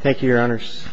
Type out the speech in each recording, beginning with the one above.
Thank you, Your Honors.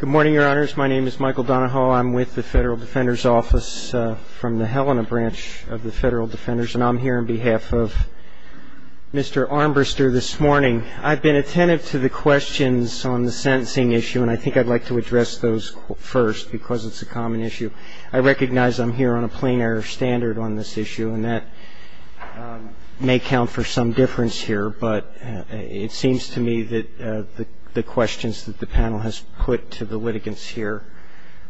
Good morning, Your Honors. My name is Michael Donahoe. I'm with the Federal Defender's Office from the Helena Branch of the Federal Defenders, and I'm here on behalf of Mr. Armbrister this morning. I've been attentive to the questions on the sentencing issue, and I think I'd like to address those first because it's a common issue. I recognize I'm here on a plain-air standard on this issue, and that may count for some difference here, but it seems to me that the questions that the panel has put to the litigants here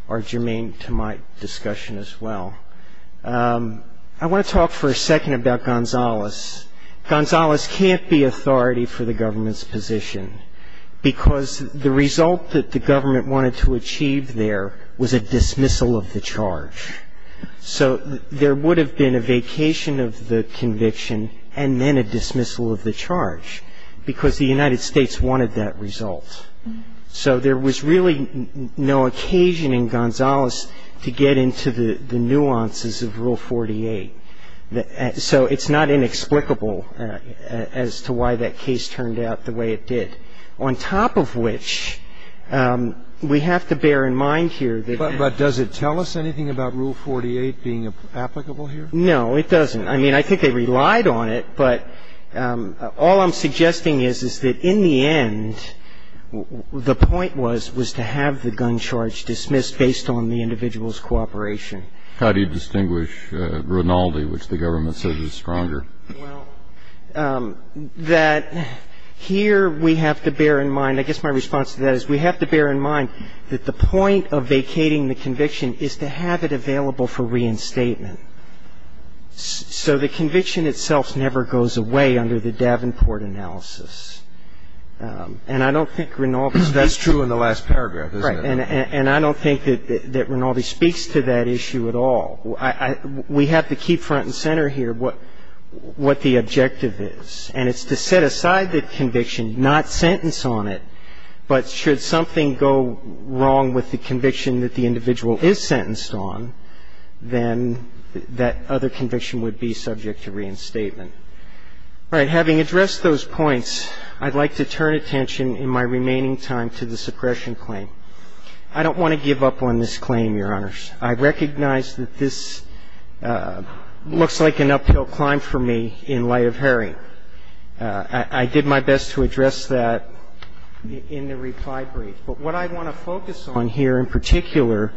are germane to my discussion as well. I want to talk for a second about Gonzales. Gonzales can't be authority for the government's position because the result that the government wanted to achieve there was a dismissal of the charge. So there would have been a vacation of the conviction and then a dismissal of the charge because the United States wanted that result. So there was really no occasion in Gonzales to get into the nuances of Rule 48. So it's not inexplicable as to why that case turned out the way it did, on top of which we have to bear in mind here that there was a vacation of the conviction and then a dismissal of the charge. But does it tell us anything about Rule 48 being applicable here? No, it doesn't. I mean, I think they relied on it, but all I'm suggesting is, is that in the end, the point was, was to have the gun charge dismissed based on the individual's cooperation. How do you distinguish Rinaldi, which the government says is stronger? Well, that here we have to bear in mind, I guess my response to that is, we have to bear in mind that the point of vacating the conviction is to have it available for reinstatement. So the conviction itself never goes away under the Davenport analysis. And I don't think Rinaldi's... That's true in the last paragraph, isn't it? And I don't think that Rinaldi speaks to that issue at all. We have to keep front and center here what the objective is. And it's to set aside the conviction, not sentence on it, but should something go wrong with the conviction that the individual is sentenced on, then that other conviction would be subject to reinstatement. All right. Having addressed those points, I'd like to turn attention in my remaining time to the suppression claim. I don't want to give up on this claim, Your Honors. I recognize that this looks like an uphill climb for me in light of Herring. I did my best to address that in the reply brief. But what I want to focus on here in particular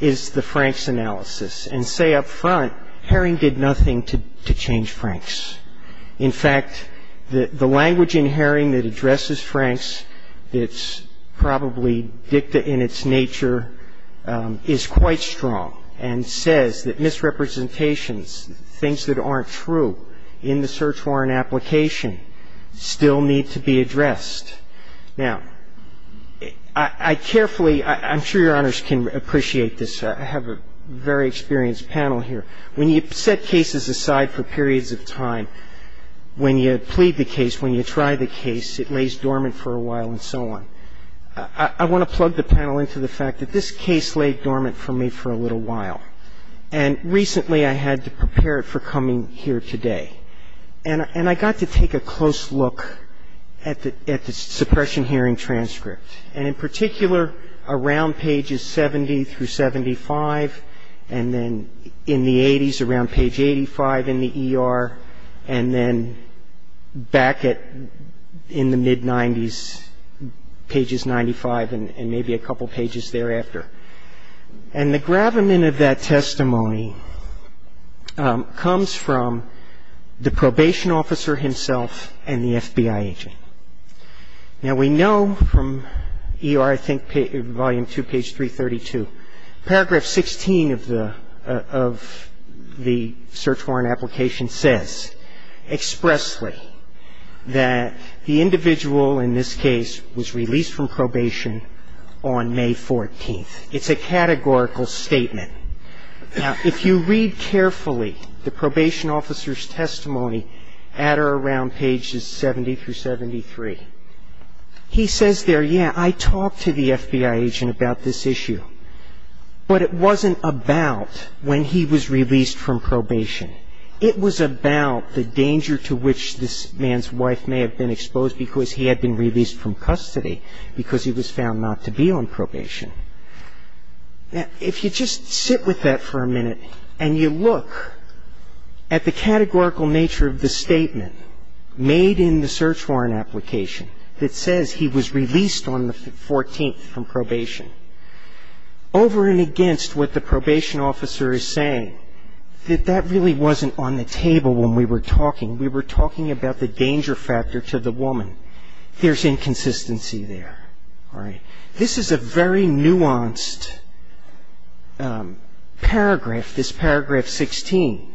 is the Franks analysis. And say up front, Herring did nothing to change Franks. In fact, the language in Herring that addresses Franks that's probably dicta in its nature is quite strong and says that misrepresentations, things that aren't true in the search warrant application, still need to be addressed. Now, I carefully ‑‑ I'm sure Your Honors can appreciate this. I have a very experienced panel here. When you set cases aside for periods of time, when you plead the case, when you try the case, it lays dormant for a while and so on. I want to plug the panel into the fact that this case laid dormant for me for a little while. And recently I had to prepare it for coming here today. And I got to take a close look at the suppression hearing transcript. And in particular around pages 70 through 75, and then in the 80s around page 85 in the ER, and then back in the mid 90s, pages 95 and maybe a couple pages thereafter. And the gravamen of that testimony comes from the probation officer himself and the FBI agent. Now, we know from ER, I think, volume 2, page 332, paragraph 16 of the search warrant application says expressly that the individual in this case was released from probation on May 14th. It's a categorical statement. Now, if you read carefully the probation officer's testimony at or around pages 70 through 73, he says there, yeah, I talked to the FBI agent about this issue. But it wasn't about when he was released from probation. It was about the danger to which this man's wife may have been exposed because he had been released from custody because he was found not to be on probation. Now, if you just sit with that for a minute and you look at the categorical nature of the statement made in the search warrant application that says he was released on the 14th from probation, over and against what the probation officer is saying, that that really wasn't on the table when we were talking. We were talking about the danger factor to the woman. There's inconsistency there. All right. This is a very nuanced paragraph, this paragraph 16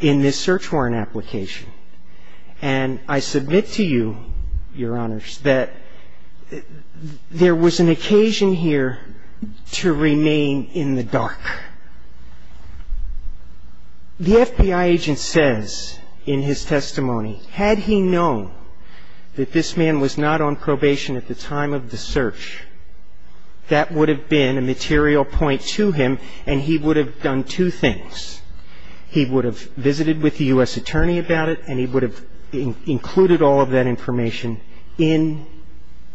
in this search warrant application. And I submit to you, Your Honors, that there was an occasion here to remain in the dark. The FBI agent says in his testimony, had he known that this man was not on probation at the time of the search, that would have been a material point to him, and he would have done two things. He would have visited with the U.S. attorney about it, and he would have included all of that information in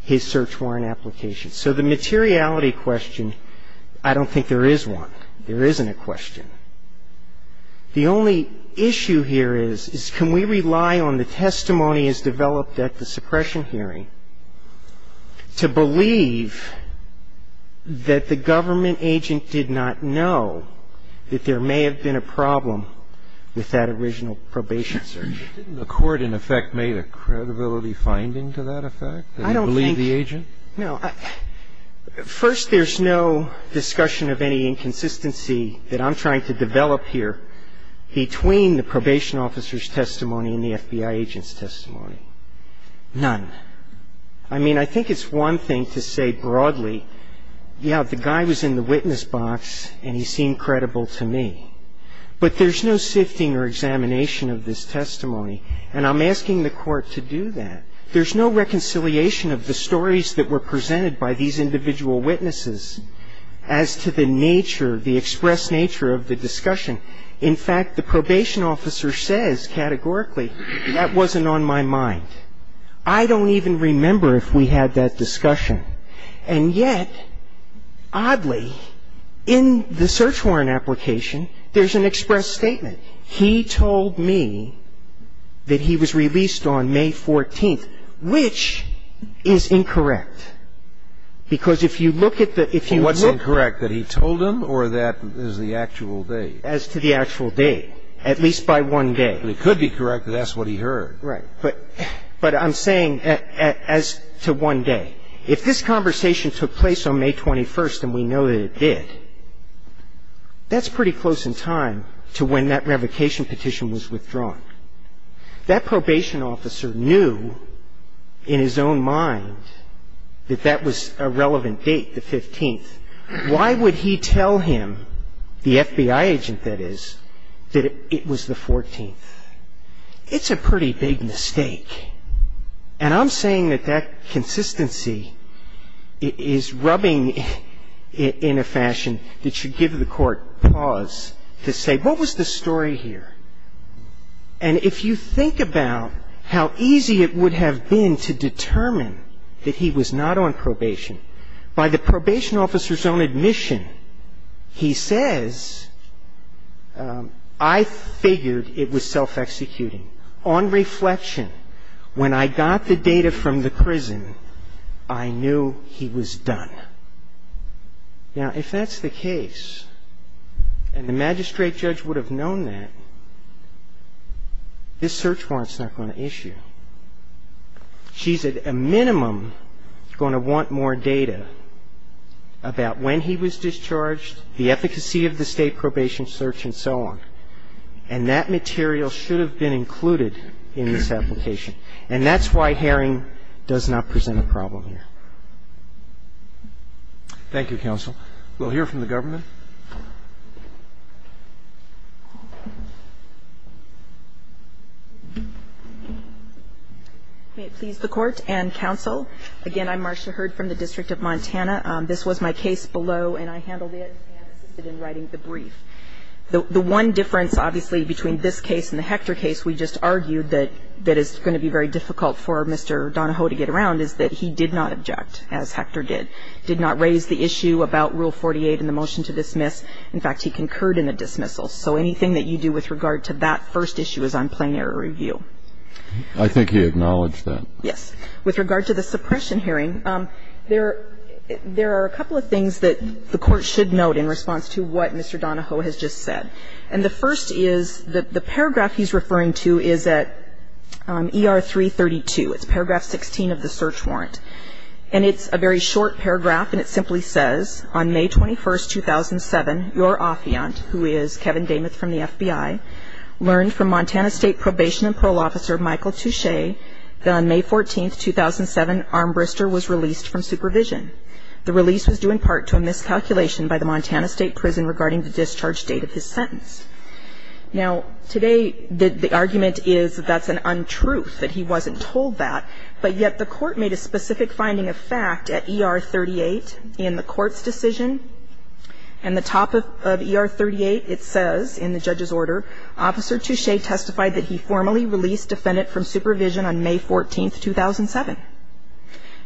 his search warrant application. So the materiality question, I don't think there is one. There isn't a question. The only issue here is, can we rely on the testimony as developed at the suppression hearing to believe that the government agent did not know that there may have been a problem with that original probation search? Didn't the court, in effect, make a credibility finding to that effect, that he believed the agent? No. First, there's no discussion of any inconsistency that I'm trying to develop here between the probation officer's testimony and the FBI agent's testimony. None. I mean, I think it's one thing to say broadly, yeah, the guy was in the witness box and he seemed credible to me. But there's no sifting or examination of this testimony, and I'm asking the Court to do that. There's no reconciliation of the stories that were presented by these individual witnesses as to the nature, the express nature of the discussion. In fact, the probation officer says categorically, that wasn't on my mind. I don't even remember if we had that discussion. And yet, oddly, in the search warrant application, there's an express statement. He told me that he was released on May 14th, which is incorrect. Because if you look at the ‑‑ What's incorrect, that he told them or that is the actual date? As to the actual date, at least by one day. But it could be correct that that's what he heard. Right. But I'm saying as to one day. If this conversation took place on May 21st, and we know that it did, that's pretty close in time to when that revocation petition was withdrawn. That probation officer knew in his own mind that that was a relevant date, the 15th. Why would he tell him, the FBI agent, that is, that it was the 14th? It's a pretty big mistake. And I'm saying that that consistency is rubbing in a fashion that should give the Court pause to say, what was the story here? And if you think about how easy it would have been to determine that he was not on probation, by the probation officer's own admission, he says, I figured it was self‑executing. On reflection, when I got the data from the prison, I knew he was done. Now, if that's the case, and the magistrate judge would have known that, this search warrant is not going to issue. She's at a minimum going to want more data about when he was discharged, the efficacy of the state probation search, and so on. And that material should have been included in this application. And that's why Herring does not present a problem here. Thank you, counsel. We'll hear from the government. May it please the Court and counsel. Again, I'm Marcia Hurd from the District of Montana. This was my case below, and I handled it and assisted in writing the brief. The one difference, obviously, between this case and the Hector case we just argued that is going to be very difficult for Mr. Donahoe to get around is that he did not object, as Hector did. Did not raise the issue about Rule 48 in the motion to dismiss. In fact, he concurred in the dismissal. So anything that you do with regard to that first issue is on plain error review. I think he acknowledged that. Yes. With regard to the suppression hearing, there are a couple of things that the Court should note in response to what Mr. Donahoe has just said. And the first is the paragraph he's referring to is at ER 332. It's paragraph 16 of the search warrant. And it's a very short paragraph, and it simply says, on May 21, 2007, your affiant, who is Kevin Damuth from the FBI, learned from Montana State Probation and Parole Officer Michael Touche that on May 14, 2007, Armbrister was released from supervision. The release was due in part to a miscalculation by the Montana State Prison regarding the discharge date of his sentence. Now, today, the argument is that that's an untruth, that he wasn't told that. But yet the Court made a specific finding of fact at ER 38 in the Court's decision. And the top of ER 38, it says in the judge's order, Officer Touche testified that he formally released defendant from supervision on May 14, 2007.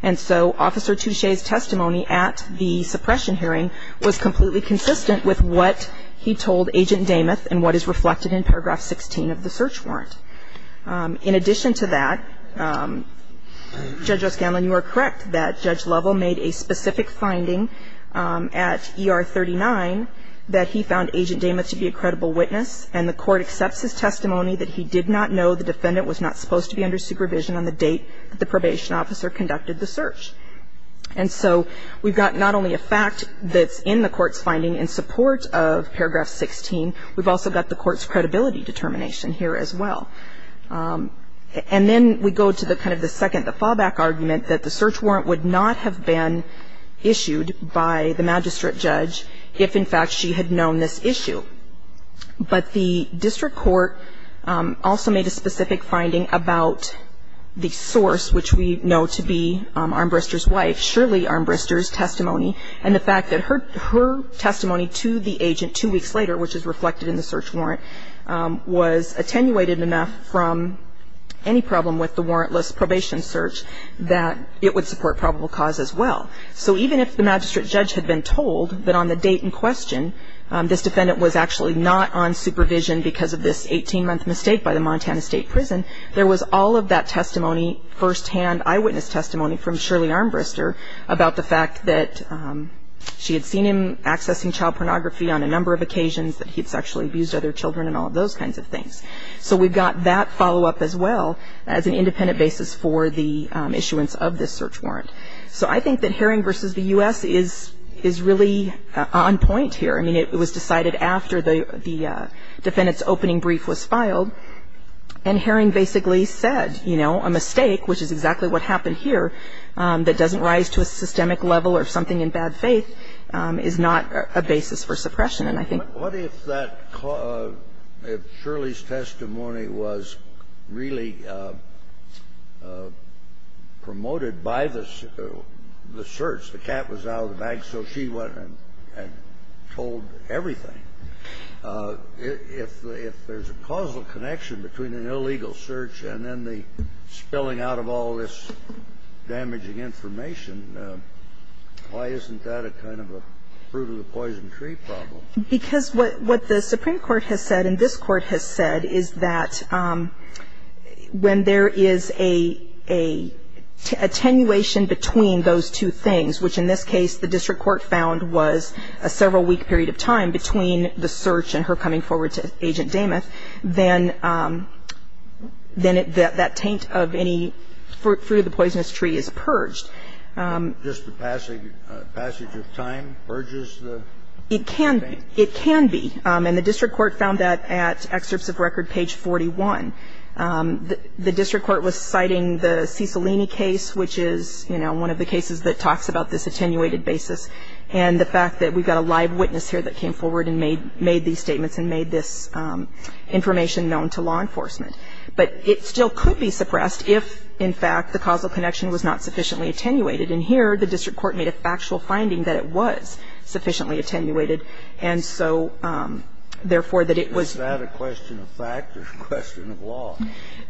And so Officer Touche's testimony at the suppression hearing was completely consistent with what he told Agent Damuth and what is reflected in paragraph 16 of the search warrant. In addition to that, Judge O'Scanlan, you are correct that Judge Lovell made a specific finding at ER 39 that he found Agent Damuth to be a credible witness, and the Court accepts his testimony that he did not know the defendant was not supposed to be under supervision on the date of the probation. And so Judge Lovell, as a probation officer, conducted the search. And so we've got not only a fact that's in the Court's finding in support of paragraph 16, we've also got the Court's credibility determination here as well. And then we go to the kind of the second, the fallback argument, that the search warrant would not have been issued by the magistrate judge if, in fact, she had known this issue. But the district court also made a specific finding about the source, which we know to be Armbrister's wife, Shirley Armbrister's testimony, and the fact that her testimony to the agent two weeks later, which is reflected in the search warrant, was attenuated enough from any problem with the warrantless probation search that it would support probable cause as well. So even if the magistrate judge had been told that on the date in question this defendant was actually not on supervision because of this 18-month mistake by the Montana State Prison, there was all of that testimony firsthand, eyewitness testimony from Shirley Armbrister about the fact that she had seen him accessing child pornography on a number of occasions, that he had sexually abused other children and all of those kinds of things. So we've got that follow-up as well as an independent basis for the issuance of this search warrant. So I think that Herring v. the U.S. is really on point here. I mean, it was decided after the defendant's opening brief was filed. And Herring basically said, you know, a mistake, which is exactly what happened here, that doesn't rise to a systemic level or something in bad faith, is not a basis for suppression. And I think that's a good point. Kennedy. What if that cause of Shirley's testimony was really promoted by the search? The cat was out of the bag, so she went and told everything. If there's a causal connection between an illegal search and then the spilling out of all this damaging information, why isn't that a kind of a fruit of the poison tree problem? Because what the Supreme Court has said and this Court has said is that when there is a attenuation between those two things, which in this case the district court found was a several-week period of time between the search and her coming forward to Agent Damath, then that taint of any fruit of the poisonous tree is purged. And the district court found that at excerpts of record page 41. The district court was citing the Cicilline case, which is, you know, one of the cases that talks about this attenuated basis, and the fact that we've got a live witness here that came forward and made these statements and made this information known to law enforcement. But it still could be suppressed if, in fact, the causal connection was not sufficiently attenuated. And here, the district court made a factual finding that it was sufficiently attenuated, and so, therefore, that it was ---- Is that a question of fact or a question of law?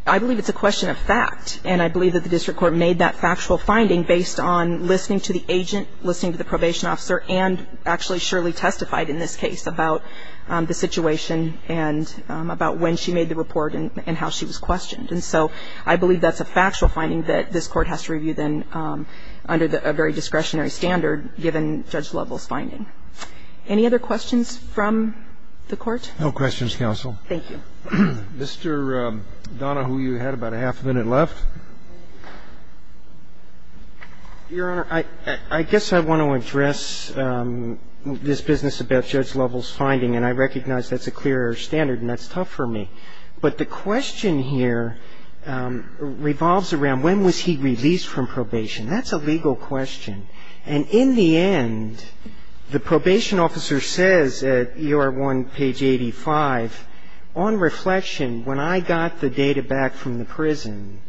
I believe it's a question of fact. And I believe that the district court made that factual finding based on listening to the agent, listening to the probation officer, and actually surely testified in this case about the situation and about when she made the report and how she was questioned. And so I believe that's a factual finding that this Court has to review then under a very discretionary standard given Judge Lovell's finding. Any other questions from the Court? No questions, counsel. Thank you. Mr. Donahue, you had about a half a minute left. Your Honor, I guess I want to address this business about Judge Lovell's finding, and I recognize that's a clear air standard and that's tough for me. But the question here revolves around when was he released from probation? That's a legal question. And in the end, the probation officer says at ER 1, page 85, on reflection, when I got the data back from the prison,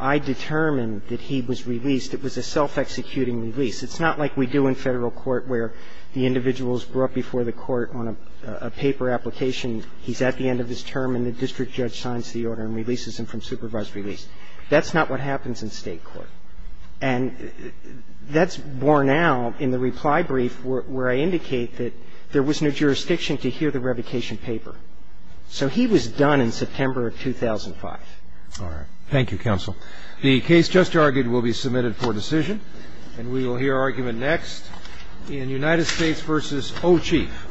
I determined that he was released. It was a self-executing release. It's not like we do in Federal court where the individual is brought before the court on a paper application. He's at the end of his term, and the district judge signs the order and releases him from supervised release. That's not what happens in State court. And that's borne out in the reply brief where I indicate that there was no jurisdiction to hear the revocation paper. So he was done in September of 2005. All right. Thank you, counsel. The case just argued will be submitted for decision, and we will hear argument next in United States v. O'Chief.